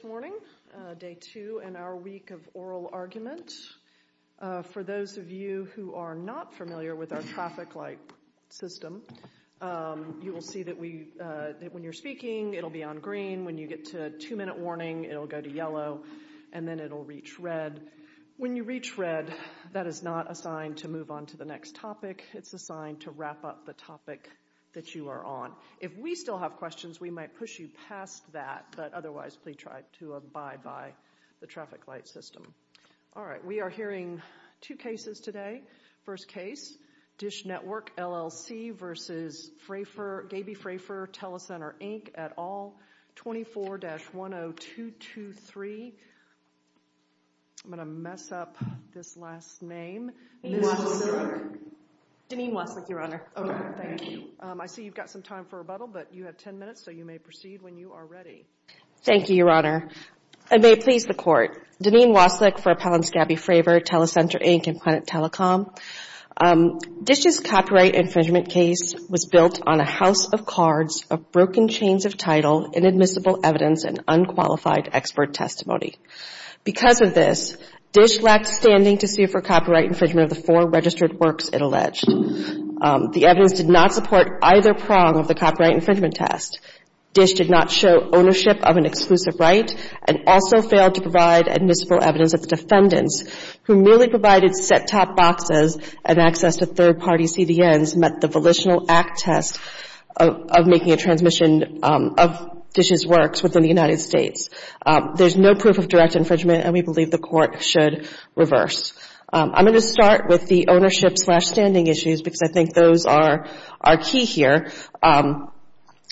Good morning. Day two in our week of oral argument. For those of you who are not familiar with our traffic light system, you will see that when you're speaking, it'll be on green. When you get to two-minute warning, it'll go to yellow, and then it'll reach red. When you reach red, that is not a sign to move on to the next topic. It's a sign to wrap up the topic that you are on. If we still have questions, we might push you past that, but otherwise, please try to abide by the traffic light system. All right. We are hearing two cases today. First case, Dish Network LLC v. Gaby Fraifer, Telecenter Inc. et al., 24-10223. I'm going to mess up this last name. Deneen Waslick, Your Honor. Okay. Thank you. I see you've got some time for rebuttal, but you have ten minutes, so you may proceed when you are ready. Thank you, Your Honor. I may please the Court. Deneen Waslick for Appellant Gaby Fraifer, Telecenter Inc. and Planet Telecom. Dish's copyright infringement case was built on a house of cards, of broken chains of title, inadmissible evidence, and unqualified expert testimony. Because of this, Dish lacked standing to sue for copyright infringement of the four registered works it alleged. The evidence did not support either prong of the copyright infringement test. Dish did not show ownership of an exclusive right and also failed to provide admissible evidence of the defendants, who merely provided set-top boxes and access to third-party CDNs met the Volitional Act test of making a transmission of Dish's works within the United States. There's no proof of direct infringement, and we believe the Court should reverse. I'm going to start with the ownership slash standing issues because I think those are key here.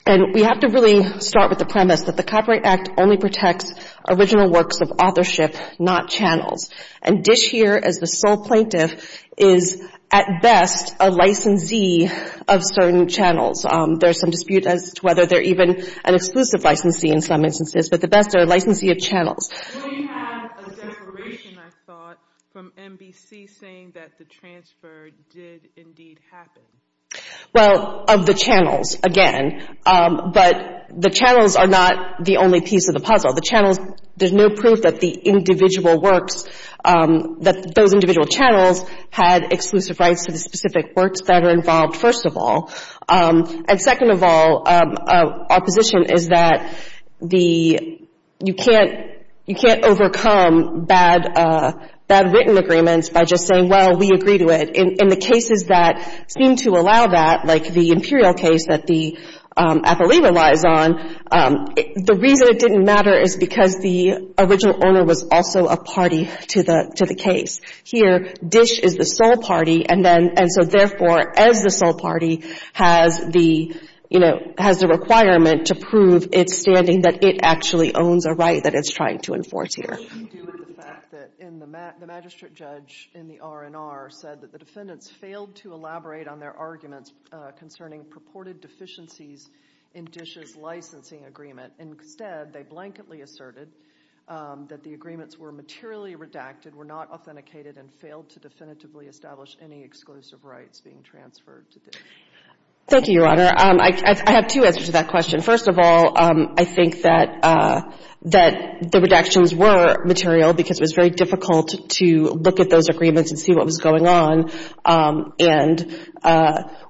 And we have to really start with the premise that the Copyright Act only protects original works of authorship, not channels. And Dish here, as the sole plaintiff, is at best a licensee of certain channels. There's some dispute as to whether they're even an exclusive licensee in some instances, but at best they're a licensee of channels. We have a declaration, I thought, from NBC saying that the transfer did indeed happen. Well, of the channels, again. But the channels are not the only piece of the puzzle. The channels, there's no proof that the individual works, that those individual channels had exclusive rights to the specific works that are involved, first of all. And second of all, our position is that the, you can't, you can't overcome bad, bad written agreements by just saying, well, we agree to it. In the cases that seem to allow that, like the Imperial case that the appellee relies on, the reason it didn't matter is because the original owner was also a party to the, to the case. Here, Dish is the sole party, and then, and so therefore, as the sole party has the, you know, has the requirement to prove its standing that it actually owns a right that it's trying to enforce here. What did they do with the fact that in the, the magistrate judge in the R&R said that the defendants failed to elaborate on their arguments concerning purported deficiencies in Dish's licensing agreement? Instead, they blanketly asserted that the agreements were materially redacted, were not authenticated, and failed to definitively establish any exclusive rights being transferred to Dish. Thank you, Your Honor. I have two answers to that question. First of all, I think that, that the redactions were material because it was very difficult to look at those agreements and see what was going on. And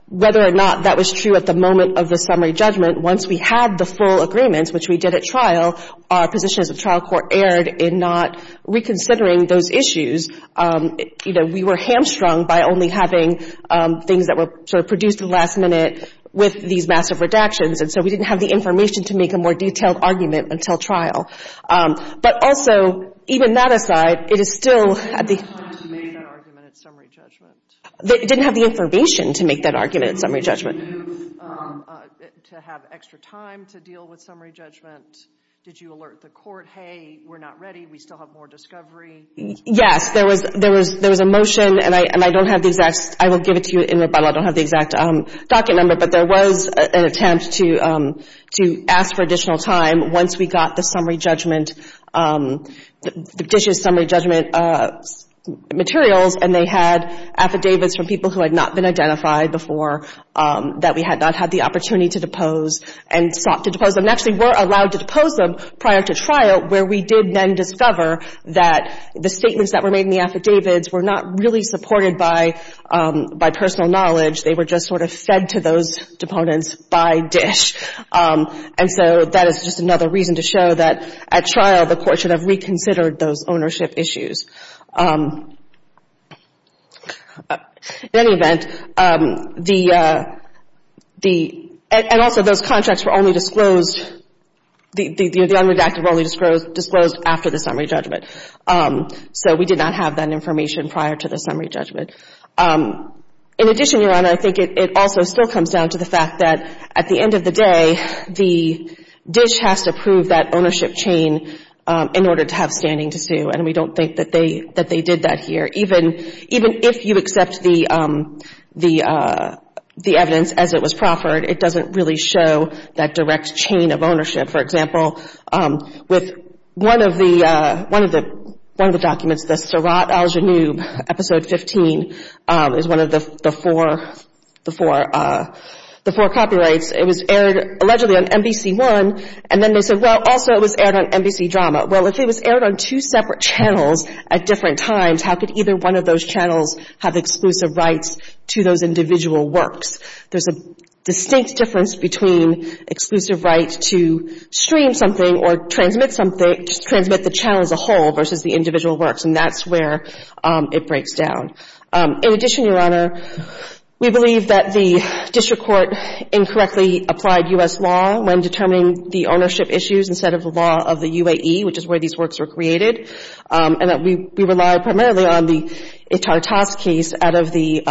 whether or not that was true at the moment of the summary judgment, once we had the full agreements, which we did at trial, our position as a trial court erred in not reconsidering those issues, you know, we were hamstrung by only having things that were sort of produced at the last minute with these massive redactions. And so we didn't have the information to make a more detailed argument until trial. But also, even that aside, it is still at the... When did you make that argument at summary judgment? They didn't have the information to make that argument at summary judgment. Did you, to have extra time to deal with summary judgment, did you alert the court, hey, we're not ready, we still have more discovery? Yes, there was a motion, and I don't have the exact, I will give it to you in rebuttal, I don't have the exact docket number, but there was an attempt to ask for additional time once we got the summary judgment, the petition's summary judgment materials, and they had affidavits from people who had not been identified before, that we had not had the opportunity to depose, and sought to depose them. And actually were allowed to depose them prior to trial, where we did then discover that the statements that were made in the affidavits were not really supported by personal knowledge, they were just sort of fed to those deponents by dish. And so that is just another reason to show that at trial, the court should have reconsidered those ownership issues. In any event, the, and also those contracts were only disclosed, the unredacted contracts were only disclosed after the summary judgment. So we did not have that information prior to the summary judgment. In addition, Your Honor, I think it also still comes down to the fact that at the end of the day, the dish has to prove that ownership chain in order to have standing to sue, and we don't think that they did that here. Even if you accept the evidence as it was proffered, it doesn't really show that direct chain of ownership. For example, with one of the documents, the Sirat al-Janoub, Episode 15, is one of the four copyrights. It was aired allegedly on NBC1, and then they said, well, also it was aired on NBC Drama. Well, if it was aired on two separate channels at different times, how could either one of those channels have exclusive rights to those individual works? There's a distinct difference between exclusive rights to stream something or transmit something, transmit the channel as a whole versus the individual works, and that's where it breaks down. In addition, Your Honor, we believe that the district court incorrectly applied U.S. law when determining the ownership issues instead of the law of the UAE, which is where these works were created, and that we rely primarily on the Ittartas case out of the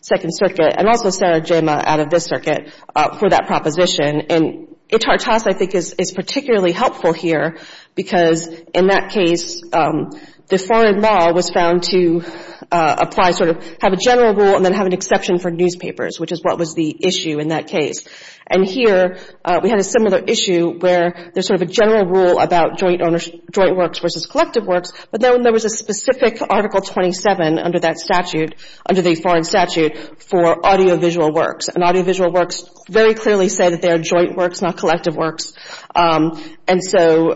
Second Circuit and also Sara Jema out of this circuit for that proposition. And Ittartas, I think, is particularly helpful here because in that case, the foreign law was found to apply sort of have a general rule and then have an exception for newspapers, which is what was the issue in that case. And here, we had a similar issue where there's sort of a general rule about joint works versus collective works, but then when there was a specific Article 27 under the foreign statute for audiovisual works, and audiovisual works very clearly say that they are joint works, not collective works, and so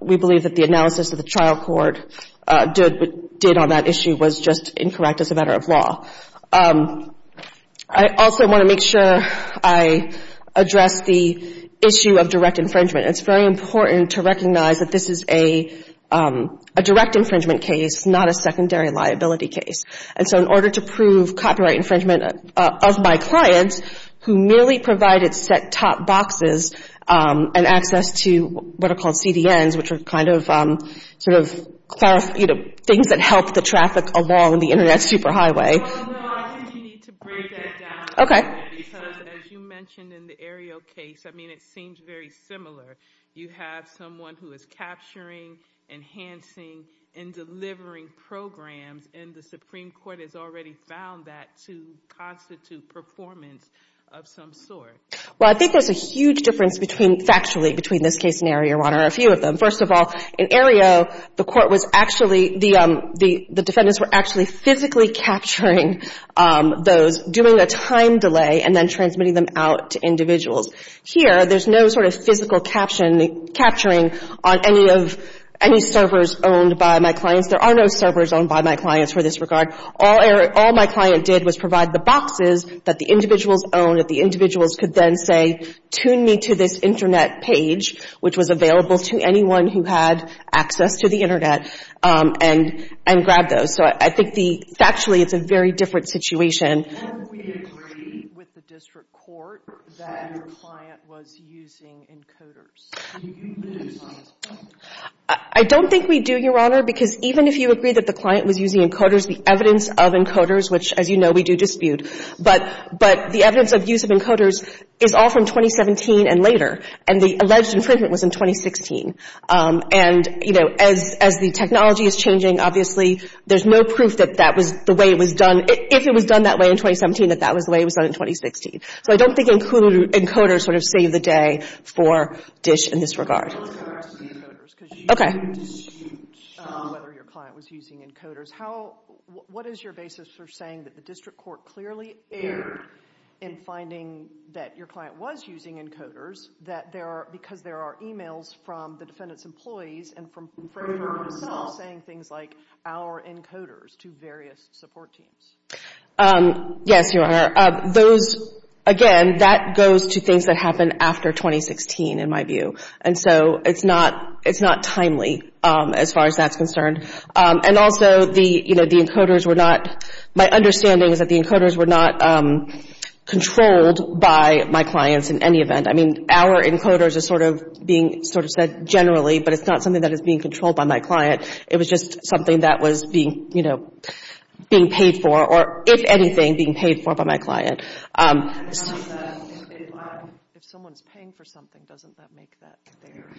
we believe that the analysis of the trial court did on that issue was just incorrect as a matter of law. I also want to make sure I address the issue of direct infringement. It's very important to recognize that this is a direct infringement case, not a secondary liability case. And so in order to prove copyright infringement of my clients, who merely provided set-top boxes and access to what are called CDNs, which are kind of sort of things that help the traffic along the Internet superhighway. Well, no, I think you need to break that down a little bit because, as you mentioned in the Aereo case, I mean, it seems very similar. You have someone who is capturing, enhancing, and delivering programs, and the Supreme Court has already found that to constitute performance of some sort. Well, I think there's a huge difference between, factually, between this case and Aereo One, or a few of them. First of all, in Aereo, the court was actually, the defendants were actually physically capturing those, doing a time delay, and then transmitting them out to individuals. Here, there's no sort of physical captioning, capturing on any of, any servers owned by my clients. There are no servers owned by my clients for this regard. All my client did was provide the boxes that the individuals owned, that the individuals could then say, tune me to this Internet page, which was available to anyone who had access to the Internet, and grab those. So I think the, factually, it's a very different situation. Can we agree with the district court that your client was using encoders? Do you use encoders? I don't think we do, Your Honor, because even if you agree that the client was using encoders, the evidence of encoders, which, as you know, we do dispute, but the evidence of use of encoders is all from 2017 and later, and the alleged infringement was in 2016. And, you know, as the technology is changing, obviously, there's no proof that that was the way it was done. If it was done that way in 2017, that that was the way it was done in 2016. So I don't think encoders sort of save the day for DISH in this regard. Well, let's go back to the encoders, because you dispute whether your client was using encoders. How, what is your basis for saying that the district court clearly erred in finding that your client was using encoders, that there are, because there are emails from the defendant's employees, and from Framer himself, saying things like, our encoders to various support teams. Yes, Your Honor. Those, again, that goes to things that happened after 2016, in my view. And so it's not, it's not timely as far as that's concerned. And also, the, you know, the encoders were not, my understanding is that the encoders were not controlled by my clients in any event. I mean, our encoders are sort of being sort of said generally, but it's not something that is being controlled by my client. It was just something that was being, you know, being paid for, or if anything, being paid for by my client. If someone's paying for something, doesn't that make that clear?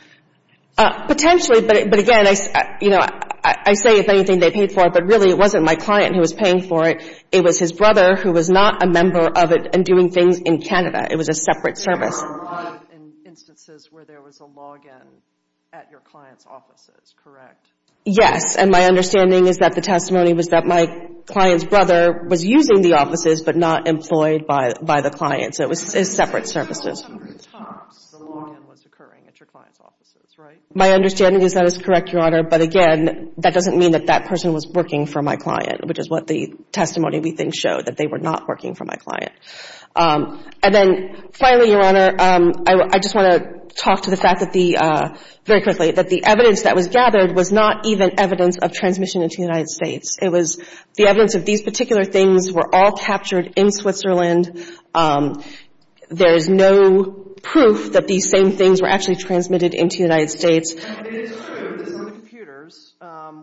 Potentially, but, but again, I, you know, I say if anything they paid for it, but really it wasn't my client who was paying for it. It was his brother who was not a member of it, and doing things in Canada. It was a separate service. There were a lot of instances where there was a login at your client's offices, correct? Yes, and my understanding is that the testimony was that my client's brother was using the offices, but not employed by, by the client. So it was separate services. So it's not on the tops the login was occurring at your client's offices, right? My understanding is that is correct, Your Honor, but again, that doesn't mean that that person was working for my client, which is what the testimony we think showed, that they were not working for my client. And then finally, Your Honor, I just want to talk to the fact that the, very quickly, that the evidence that was gathered was not even evidence of transmission into the United States. It was the evidence of these particular things were all captured in Switzerland. There's no proof that these same things were actually transmitted into the United States. It is true that some of the computers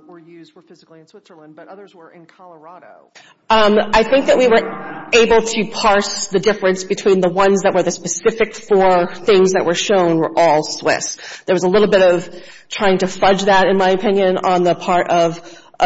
were used, were physically in Switzerland, but others were in Colorado. I think that we were able to parse the difference between the ones that were the specific four things that were shown were all Swiss. There was a little bit of trying to fudge that, in my opinion, on the part of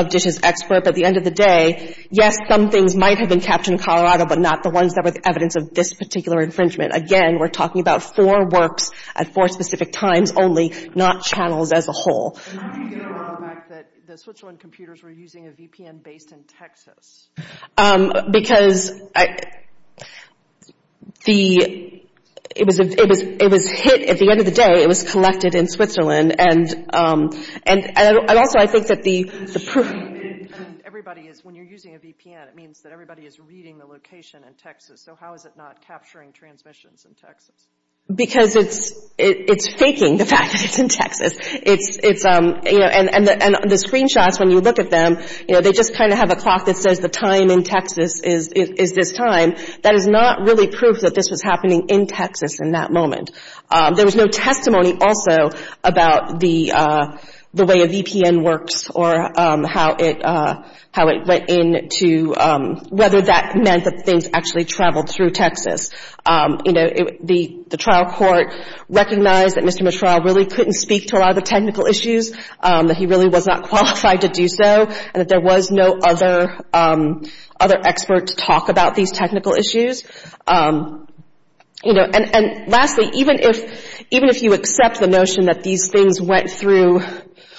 DISH's expert. But at the end of the day, yes, some things might have been captured in Colorado, but not the ones that were the evidence of this particular infringement. Again, we're talking about four works at four specific times only, not channels as a whole. How do you get around the fact that the Switzerland computers were using a VPN based in Texas? Because it was hit, at the end of the day, it was collected in Switzerland. And also, I think that the proof... Everybody is, when you're using a VPN, it means that everybody is reading the location in Texas. So how is it not capturing transmissions in Texas? Because it's faking the fact that it's in Texas. And the screenshots, when you look at them, they just kind of have a clock that says the time in Texas is this time. That is not really proof that this was happening in Texas in that moment. There was no testimony also about the way a VPN works or how it went in to whether that meant that things actually traveled through Texas. The trial court recognized that Mr. Mishra really couldn't speak to a lot of the technical issues, that he really was not qualified to do so, and that there was no other expert to talk about these technical issues. And lastly, even if you accept the notion that these things went through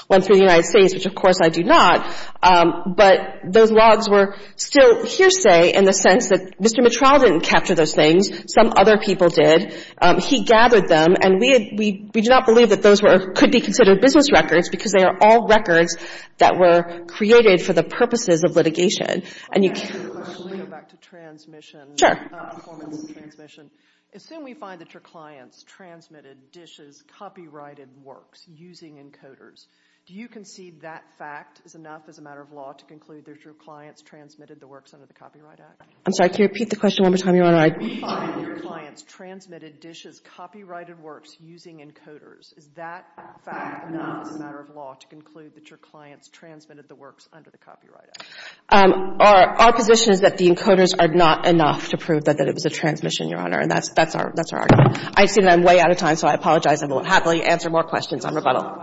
the United States, which of course I do not, but those logs were still hearsay in the sense that Mr. Mishra didn't capture those things. Some other people did. He gathered them, and we do not believe that those could be considered business records, because they are all records that were created for the purposes of litigation. Let me go back to transmission, performance and transmission. Assume we find that your clients transmitted DISH's copyrighted works using encoders. Do you concede that fact is enough as a matter of law to conclude that your clients transmitted the works under the Copyright Act? I'm sorry, can you repeat the question one more time? Assume we find that your clients transmitted DISH's copyrighted works using encoders. Is that fact enough as a matter of law to conclude that your clients transmitted the works under the Copyright Act? Our position is that the encoders are not enough to prove that it was a transmission, Your Honor, and that's our argument. I assume I'm way out of time, so I apologize. I will happily answer more questions on rebuttal.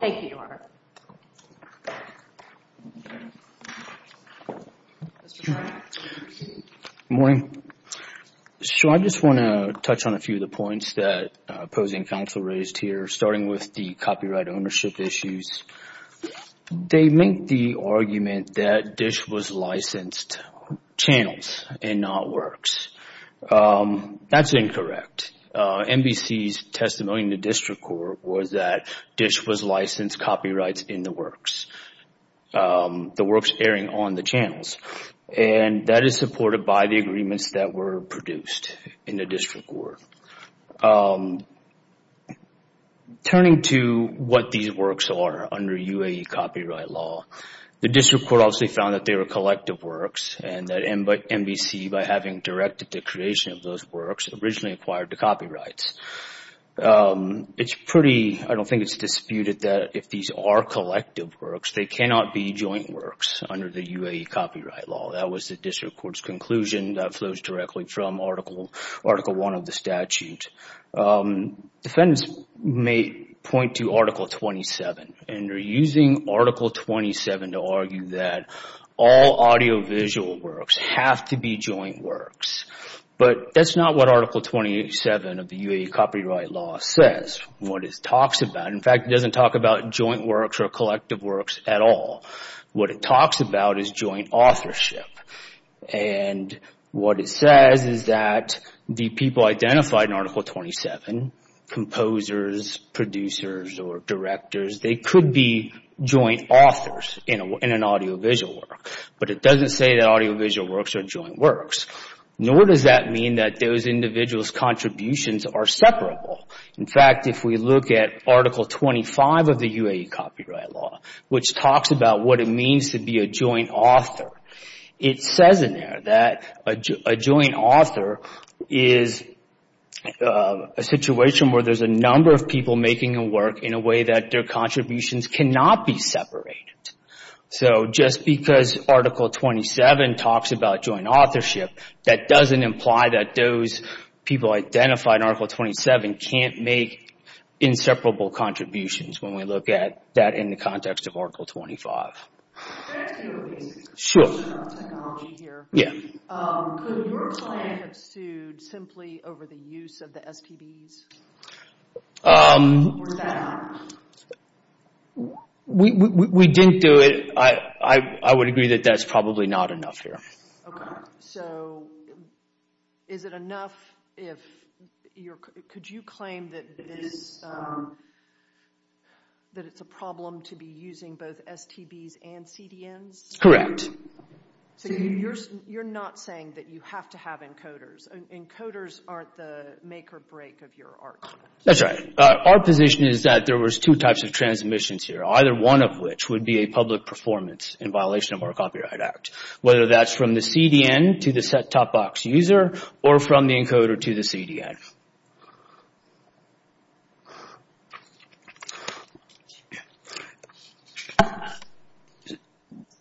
Thank you, Your Honor. Good morning. So I just want to touch on a few of the points that opposing counsel raised here, starting with the copyright ownership issues. They make the argument that DISH was licensed channels and not works. That's incorrect. NBC's testimony in the district court was that DISH was licensed copyrights in the works, the works airing on the channels, and that is supported by the agreements that were produced in the district court. Turning to what these works are under UAE copyright law, the district court obviously found that they were collective works and that NBC, by having directed the creation of those works, originally acquired the copyrights. I don't think it's disputed that if these are collective works, they cannot be joint works under the UAE copyright law. That was the district court's argument in article one of the statute. Defendants may point to article 27, and they're using article 27 to argue that all audiovisual works have to be joint works. But that's not what article 27 of the UAE copyright law says. What it talks about, in fact, it doesn't talk about joint works or collective works at all. What it talks about is joint authorship, and what it says is that the people identified in article 27, composers, producers, or directors, they could be joint authors in an audiovisual work. But it doesn't say that audiovisual works are joint works, nor does that mean that those individuals' contributions are separable. In fact, if we look at article 25 of the UAE copyright law, which talks about what it means to be a joint author, it says in there that a joint author is a situation where there's a number of people making a work in a way that their contributions cannot be separated. So just because article 27 talks about joint authorship, that doesn't imply that those people identified in article 27 can't make inseparable contributions when we look at that in the UAE. Could your client have sued simply over the use of the STBs? We didn't do it. I would agree that that's probably not enough here. So is it enough if you're, could you claim that this, that it's a problem to be using both STBs and CDNs? So you're not saying that you have to have encoders. Encoders aren't the make or break of your argument. That's right. Our position is that there was two types of transmissions here, either one of which would be a public performance in violation of our jurisdiction.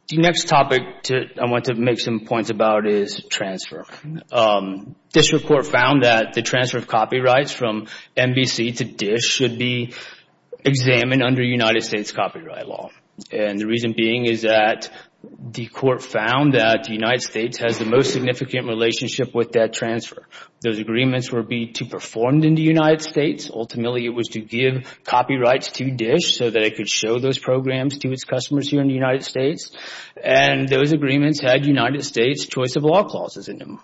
The next topic I want to make some points about is transfer. District Court found that the transfer of copyrights from NBC to DISH should be examined under United States copyright law. And the reason being is that the court found that the United States has the most significant relationship with that transfer. Those agreements were to be performed in the United States. Ultimately, it was to give copyrights to DISH so that it could show those programs to its customers here in the United States. And those agreements had United States choice of law clauses in them.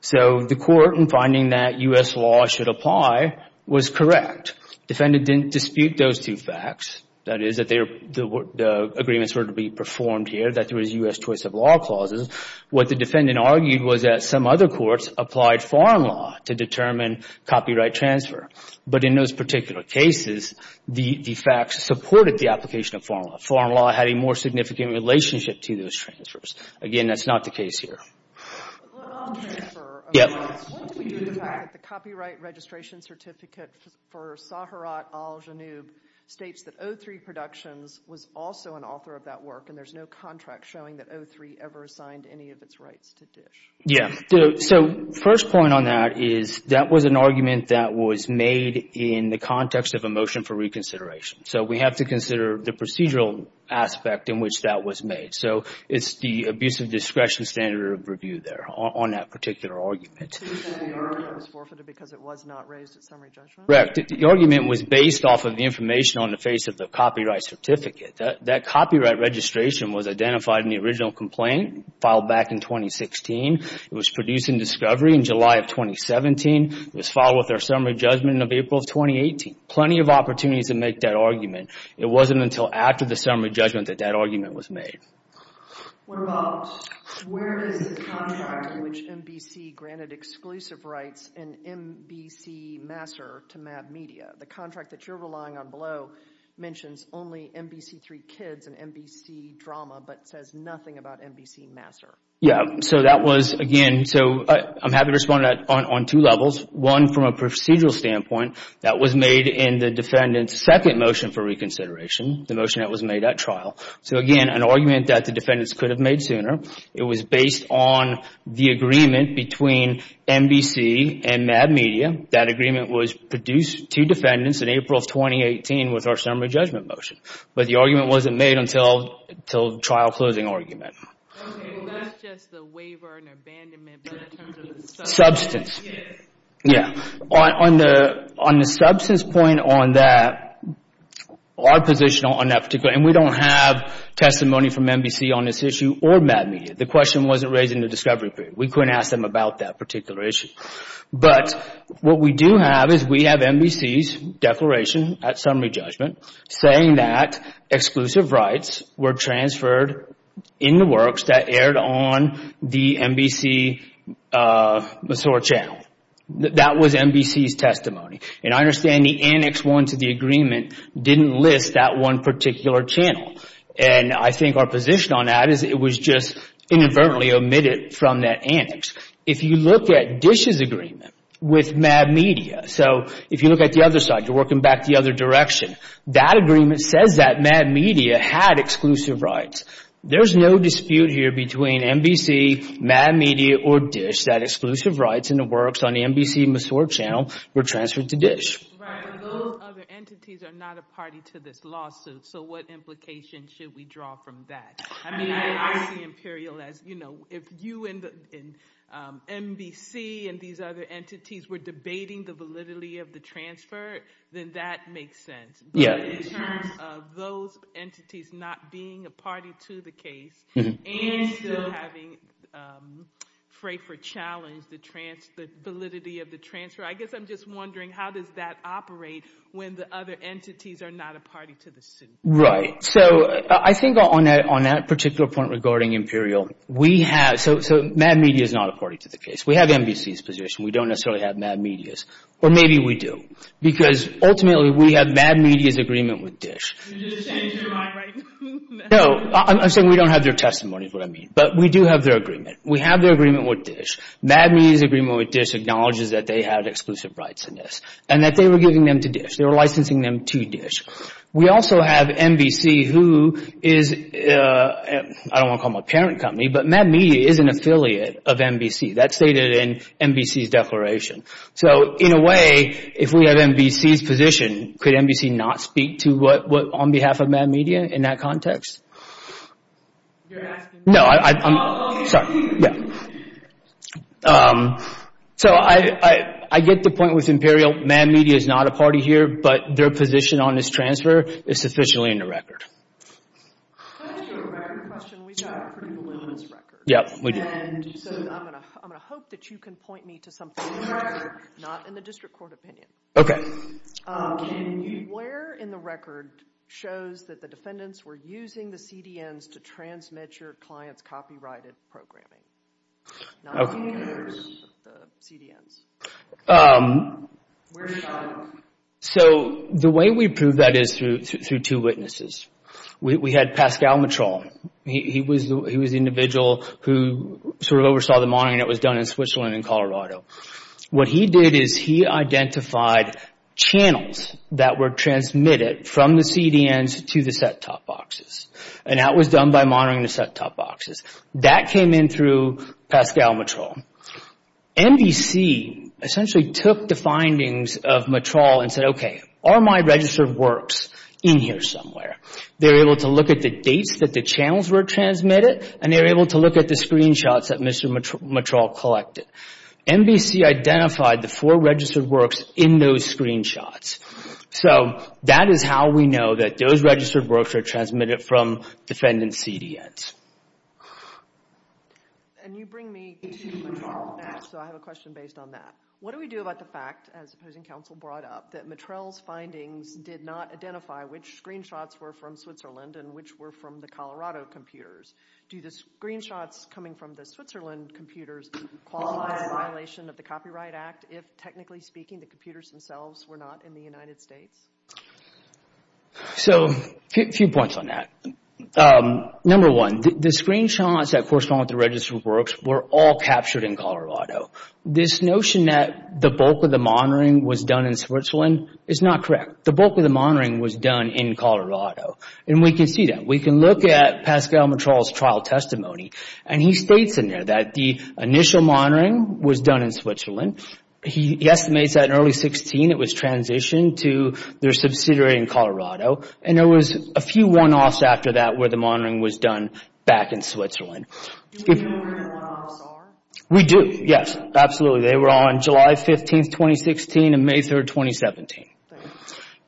So the court in finding that U.S. law should apply was correct. Defendant didn't dispute those two facts, that is, that the agreements were to be performed here, that there was U.S. choice of law clauses. What the defendant argued was that some other courts applied foreign law to determine copyright transfer. But in those particular cases, the facts supported the application of foreign law. Foreign law had a more significant relationship to those transfers. Again, that's not the case here. The copyright registration certificate for Saharat Al-Janoub states that O3 Productions was also an author of that work. And there's no contract showing that O3 ever assigned any of its rights to DISH. Yeah. So first point on that is that was an argument that was made in the context of a motion for reconsideration. So we have to consider the procedural aspect in which that was made. So it's the abuse of discretion standard review there on that particular argument. Correct. The argument was based off of the information on the face of the copyright certificate. That copyright registration was identified in the original complaint filed back in 2016. It was produced in discovery in July of 2017. It was filed with our summary judgment in April of 2018. Plenty of opportunities to make that argument. It wasn't until after the summary judgment that that argument was made. What about, where is the contract in which NBC granted exclusive rights in NBC Master to MAP Media? The contract that you're relying on below mentions only NBC3 Kids and NBC Drama, but says nothing about NBC Master. Yeah. So that was again, so I'm happy to respond on two levels. One from a procedural standpoint that was made in the defendant's second motion for reconsideration, the motion that was made at trial. So again, an argument that the defendants could have made sooner. It was based on the agreement between NBC and MAP Media. That agreement was produced to defendants in April of 2018 with our summary judgment motion. But the argument wasn't made until trial closing argument. Okay, so that's just the waiver and abandonment but in terms of the substance. Substance. Yeah. On the substance point on that, our position on that particular, and we don't have testimony from NBC on this issue or MAP Media. The question wasn't raised in the discovery period. We couldn't ask them about that particular issue. But what we do have is we have NBC's declaration at summary judgment saying that exclusive rights were transferred in the works that aired on the NBC Masore channel. That was NBC's testimony. And I understand the annex one to the agreement didn't list that one particular channel. And I think our position on that is it was just inadvertently omitted from that annex. If you look at Dish's agreement with MAP Media. So if you look at the other side, you're working back the other direction. That agreement says that MAP Media had exclusive rights. There's no dispute here between NBC, MAP Media or Dish that exclusive rights in the works on the NBC Masore channel were transferred to Dish. Those other entities are not a party to this lawsuit. So what implications should we draw from that? I mean, I see Imperial as, you know, if you and NBC and these other entities were debating the validity of the transfer, then that makes sense. But in terms of those entities not being a party to the case and still having Frafer challenge the validity of the transfer, I guess I'm just wondering how does that operate when the other entities are not a party to the suit? Right. So I think on that particular point regarding Imperial, we have, so MAP Media is not a party to the case. We have NBC's position. We don't necessarily have MAP Media's. Or maybe we do because ultimately we have MAP Media's agreement with Dish. No, I'm saying we don't have their testimony is what I mean. But we do have their agreement. We have their agreement with Dish. MAP Media's agreement with Dish acknowledges that they have exclusive rights in this and that they were giving them to Dish. They were licensing them to Dish. We also have NBC who is, I don't want to call them a parent company, but MAP Media is an affiliate of NBC. That's stated in NBC's declaration. So in a way, if we have NBC's position, could NBC not speak to what, on behalf of MAP Media in that context? You're asking me? No, I'm, sorry. So I get the point with Imperial. MAP Media is not a party here, but their position on this transfer is sufficiently in the record. To answer your record question, we've got a pretty voluminous record. Yep, we do. And so I'm going to hope that you can point me to something in the record, not in the district court opinion. Okay. Where in the record shows that the defendants were using the CDNs to transmit your client's copyrighted programming? CDNs. So the way we prove that is through two witnesses. We had Pascal Matron. He was the individual who sort of oversaw the monitoring that was done in Switzerland and Colorado. What he did is he identified channels that were transmitted from the CDNs to the set-top boxes. And that was done by monitoring the set-top boxes. That came in through Pascal Matron. NBC essentially took the findings of Matron and said, okay, are my registered works in here somewhere? They were able to look at the sheets that the channels were transmitted and they were able to look at the screenshots that Mr. Matron collected. NBC identified the four registered works in those screenshots. So that is how we know that those registered works are transmitted from defendant CDNs. And you bring me to Matron, so I have a question based on that. What do we do about the fact, as opposing counsel brought up, that Matron's findings did not identify which screenshots were from Switzerland and which were from the Colorado computers? Do the screenshots coming from the Switzerland computers qualify as a violation of the Copyright Act if, technically speaking, the computers themselves were not in the United States? So a few points on that. Number one, the screenshots that correspond with the registered works were all captured in Colorado. This notion that the bulk of the monitoring was done in Switzerland is not correct. The bulk of the monitoring was done in Colorado, and we can see that. We can look at Pascal Matron's trial testimony, and he states in there that the initial monitoring was done in Switzerland. He estimates that in early 2016 it was transitioned to their subsidiary in Colorado, and there was a few one-offs after that where the monitoring was done back in Switzerland. Do we know where the one-offs are? We do, yes, absolutely. They were on July 15, 2016 and May 3, 2017.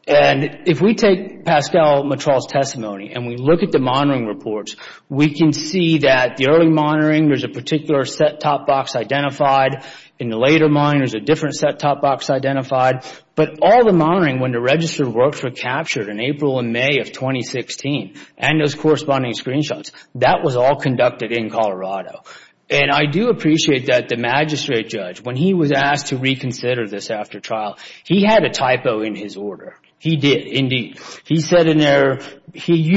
And if we take Pascal Matron's testimony and we look at the monitoring reports, we can see that the early monitoring, there's a particular set-top box identified. In the later monitoring, there's a different set-top box identified. But all the monitoring when the registered works were captured in April and May of 2016, and those corresponding screenshots, that was all conducted in Colorado. And I do appreciate that the magistrate judge, when he was asked to reconsider this after trial, he had a typo in his order. He did, indeed. He used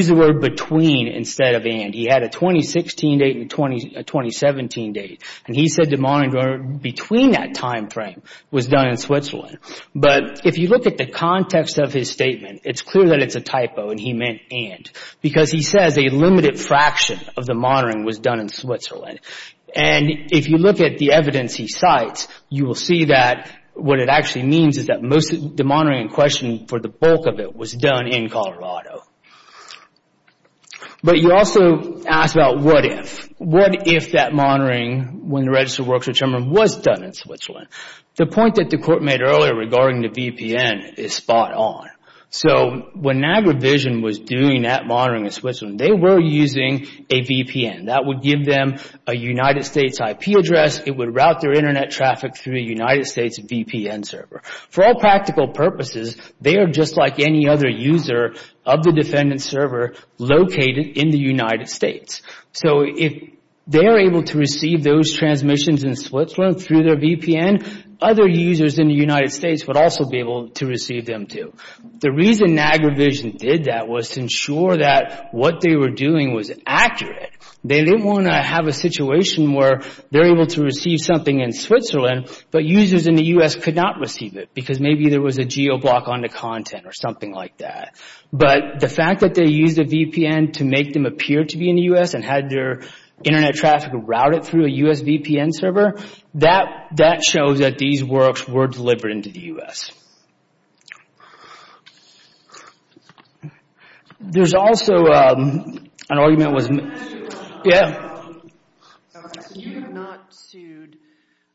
the word between instead of and. He had a 2016 date and a 2017 date, and he said the monitoring between that time frame was done in Switzerland. But if you look at the context of his statement, it's clear that it's a typo and he meant and, because he says a limited fraction of the monitoring was done in Switzerland. And if you look at the evidence he cites, you will see that what it actually means is that most of the monitoring in question for the bulk of it was done in Colorado. But you also ask about what if. What if that monitoring when the registered works were determined was done in Switzerland? The point that the court made earlier regarding the VPN is spot on. So when Niagara Vision was doing that monitoring in Switzerland, they were using a VPN. That would give them a United States IP address. It would route their Internet traffic through the United States VPN server. For all practical purposes, they are just like any other user of the defendant's server located in the United States. So if they're able to receive those transmissions in Switzerland through their VPN, other users in the United States would also be able to receive them too. The reason Niagara Vision did that was to ensure that what they were doing was accurate. They didn't want to have a situation where they're able to receive something in Switzerland, but users in the U.S. could not receive it because maybe there was a geo block on the content or something like that. But the fact that they used a VPN to make them appear to be in the U.S. and had their Internet traffic routed through a U.S. VPN server, that shows that these works were delivered into the U.S. There's also an argument... So you have not sued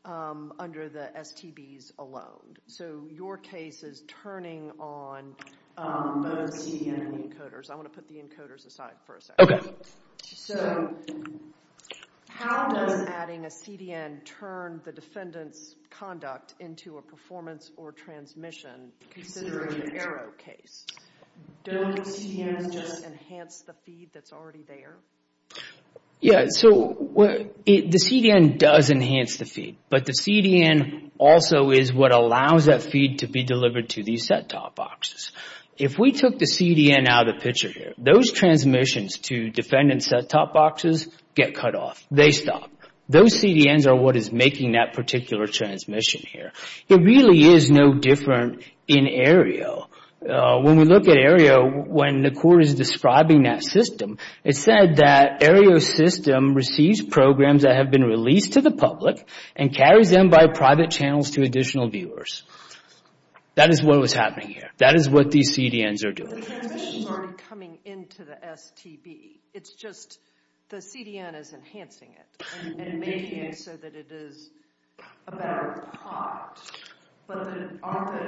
under the STBs alone. So your case is turning on both CDN and the encoders. I want to put the encoders aside for a second. How does adding a CDN turn the defendant's conduct into a performance or transmission, considering an arrow case? Don't CDNs just enhance the feed that's already there? Yeah, so the CDN does enhance the feed, but the CDN also is what allows that feed to be delivered to these set-top boxes. If we took the CDN out of the picture here, those transmissions to defendant set-top boxes get cut off. They stop. Those CDNs are what is making that particular transmission here. It really is no different in Aereo. When we look at Aereo, when the court is describing that system, it said that Aereo's system receives programs that have been released to the public and carries them by private channels to additional viewers. That is what was happening here. But the transmission is already coming into the STB. The CDN is enhancing it and making it so that it is a better product. But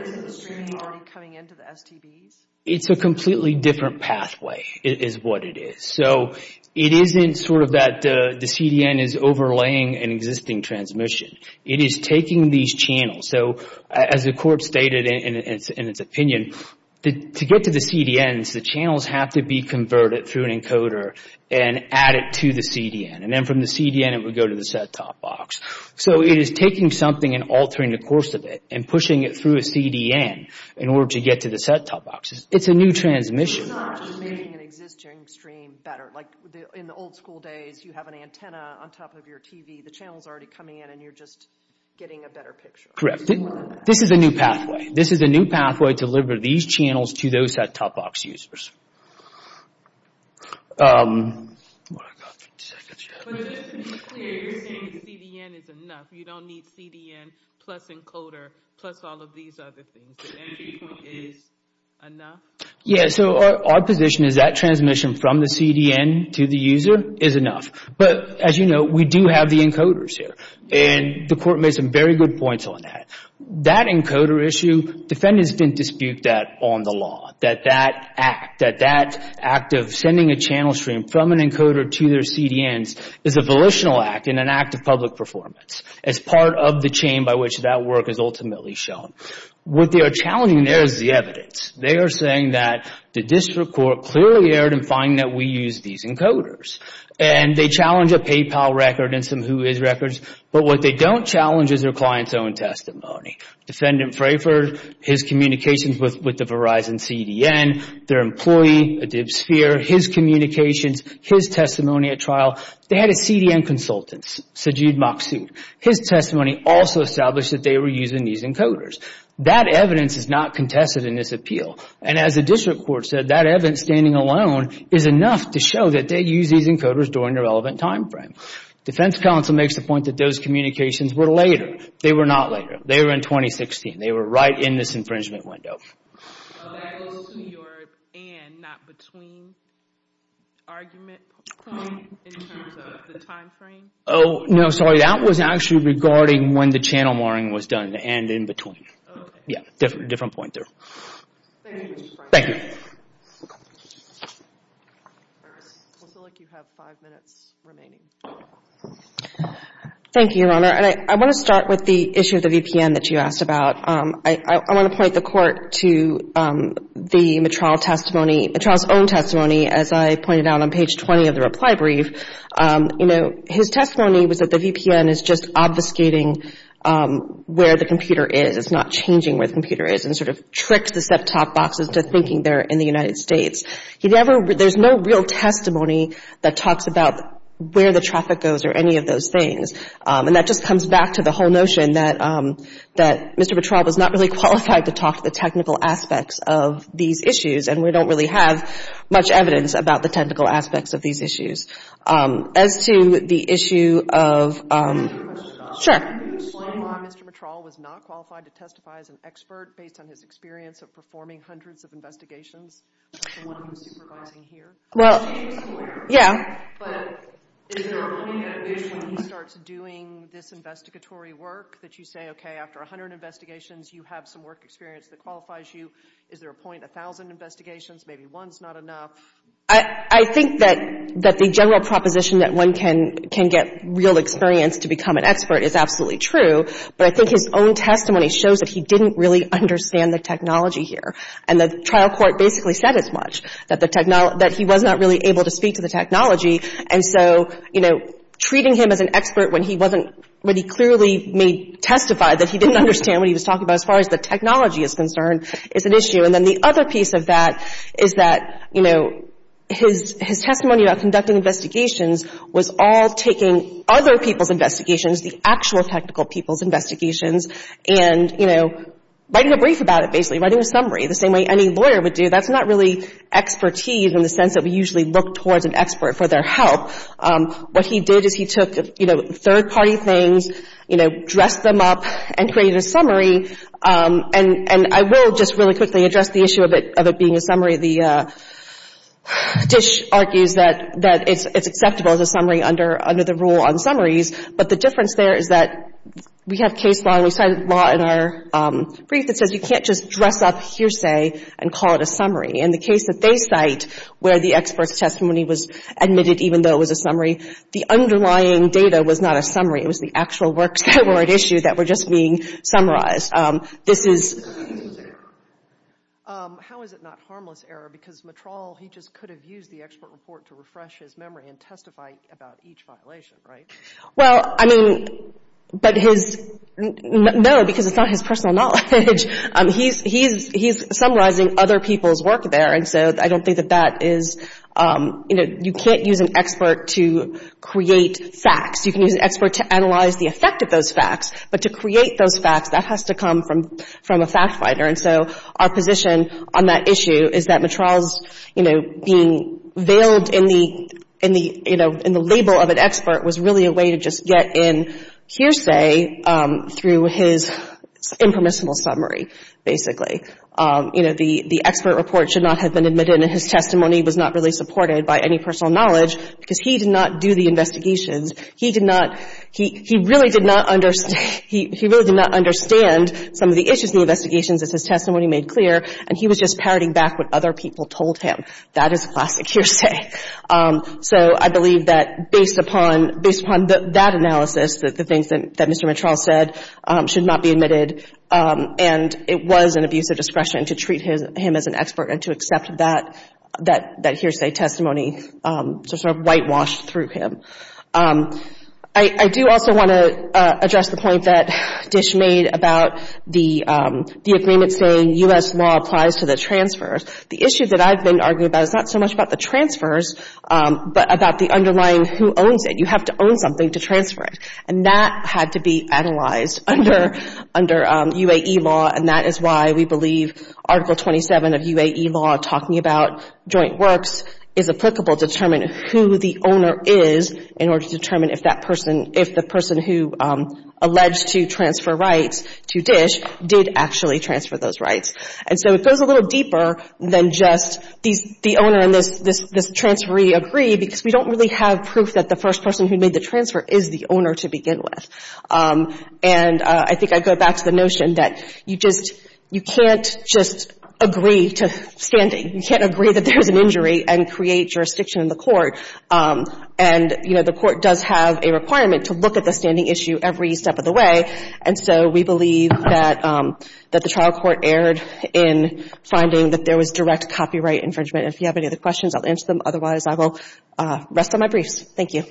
isn't the streaming already coming into the STBs? It's a completely different pathway, is what it is. It isn't that the CDN is overlaying an existing transmission. It is taking these channels. As the court stated in its opinion, to get to the CDNs, the channels have to be converted through an encoder and added to the CDN. Then from the CDN, it would go to the set-top box. It is taking something and altering the course of it and pushing it through a CDN in order to get to the set-top boxes. It's a new transmission. In the old school days, you have an antenna on top of your TV. The channel is already coming in and you're just getting a better picture. This is a new pathway to deliver these channels to those set-top box users. Just to be clear, you're saying the CDN is enough. You don't need CDN plus encoder, plus all of these other things. The entry point is enough? Our position is that transmission from the CDN to the user is enough. As you know, we do have the encoders here. The court made some very good points on that. That encoder issue, defendants didn't dispute that on the law. That act of sending a channel stream from an encoder to their CDNs is a volitional act and an act of public performance as part of the chain by which that work is ultimately shown. What they are challenging there is the evidence. They are saying that the district court clearly erred in finding that we use these encoders. They challenge a PayPal record and some Whois records, but what they don't challenge is their client's own testimony. Defendant Frayford, his communications with the Verizon CDN, their employee, his communications, his testimony at trial, they had a CDN consultant, Sajid Maksud. His testimony also established that they were using these encoders. That evidence is not contested in this appeal, and as the district court said, that evidence standing alone is enough to show that they use these encoders during the relevant time frame. Defense counsel makes the point that those communications were later. They were not later. They were in 2016. They were right in this infringement window. That is to your and, not between argument point in terms of the time frame? That was actually regarding when the channel marring was done, and in between. Thank you, Mr. Frayford. Looks like you have five minutes remaining. Thank you, Your Honor, and I want to start with the issue of the VPN that you asked about. I want to point the court to the Mitrall testimony, Mitrall's own testimony, as I pointed out on page 20 of the reply brief. His testimony was that the VPN is just obfuscating where the computer is. It's not changing where the computer is and sort of tricks the set-top boxes to thinking they're in the United States. There's no real testimony that talks about where the traffic goes or any of those things. And that just comes back to the whole notion that Mr. Mitrall was not really qualified to talk to the technical aspects of these issues, and we don't really have much evidence about the technical aspects of these issues. As to the issue of Sure. Well, yeah. I think that the general proposition that one can get real experience to become an expert is absolutely true, but I think his own testimony shows that he didn't really understand the technology here, and the trial court basically said as much, that he was not really able to speak to the technology. And so treating him as an expert when he clearly testified that he didn't understand what he was talking about as far as the technology is concerned is an issue. And then the other piece of that is that his testimony about conducting investigations was all taking other people's investigations, the actual technical people's investigations, and, you know, writing a brief about it basically, writing a summary, the same way any lawyer would do. That's not really expertise in the sense that we usually look towards an expert for their help. What he did is he took, you know, third-party things, you know, dressed them up and created a summary. And I will just really quickly address the issue of it being a summary. The dish argues that it's acceptable as a summary under the rule on summaries, but the difference there is that we have case law, and we cited law in our brief that says you can't just dress up hearsay and call it a summary. In the case that they cite where the expert's testimony was admitted, even though it was a summary, the underlying data was not a summary. It was the actual works that were at issue that were just being summarized. This is... How is it not harmless error? Because Matrall, he just could have used the expert report to refresh his memory and testify about each violation, right? Well, I mean, but his... No, because it's not his personal knowledge. He's summarizing other people's work there, and so I don't think that that is, you know, you can't use an expert to create facts. You can use an expert to analyze the effect of those facts, but to create those facts, that has to come from a fact finder. And so our position on that issue is that Matrall's, you know, being veiled in the, you know, in the label of an expert was really a way to just get in hearsay through his impermissible summary, basically. You know, the expert report should not have been admitted, and his testimony was not really supported by any personal knowledge, because he did not do the investigations. He did not... He really did not understand some of the issues in the investigations, as his testimony made clear, and he was just parroting back what other people told him. That is classic hearsay. So I believe that based upon that analysis, that the things that Mr. Matrall said should not be admitted, and it was an abuse of discretion to treat him as an expert and to accept that hearsay testimony to sort of whitewash through him. I do also want to address the point that Dish made about the agreement saying U.S. law applies to the transfers. The issue that I've been arguing about is not so much about the transfers, but about the underlying who owns it. You have to own something to transfer it. And that had to be analyzed under UAE law, and that is why we believe Article 27 of UAE law talking about joint works is applicable to determine who the owner is in order to determine if that person, if the person who alleged to transfer rights to Dish did actually transfer those rights. And so it goes a little deeper than just the owner and this transferee agree, because we don't really have proof that the first person who made the transfer is the owner to begin with. And I think I go back to the notion that you just can't just agree to standing. You can't agree that there's an injury and create jurisdiction in the court. And the court does have a requirement to look at the standing issue every step of the way. And so we believe that the trial court erred in finding that there was direct copyright infringement. If you have any other questions, I'll answer them. Otherwise, I will rest on my briefs. Thank you.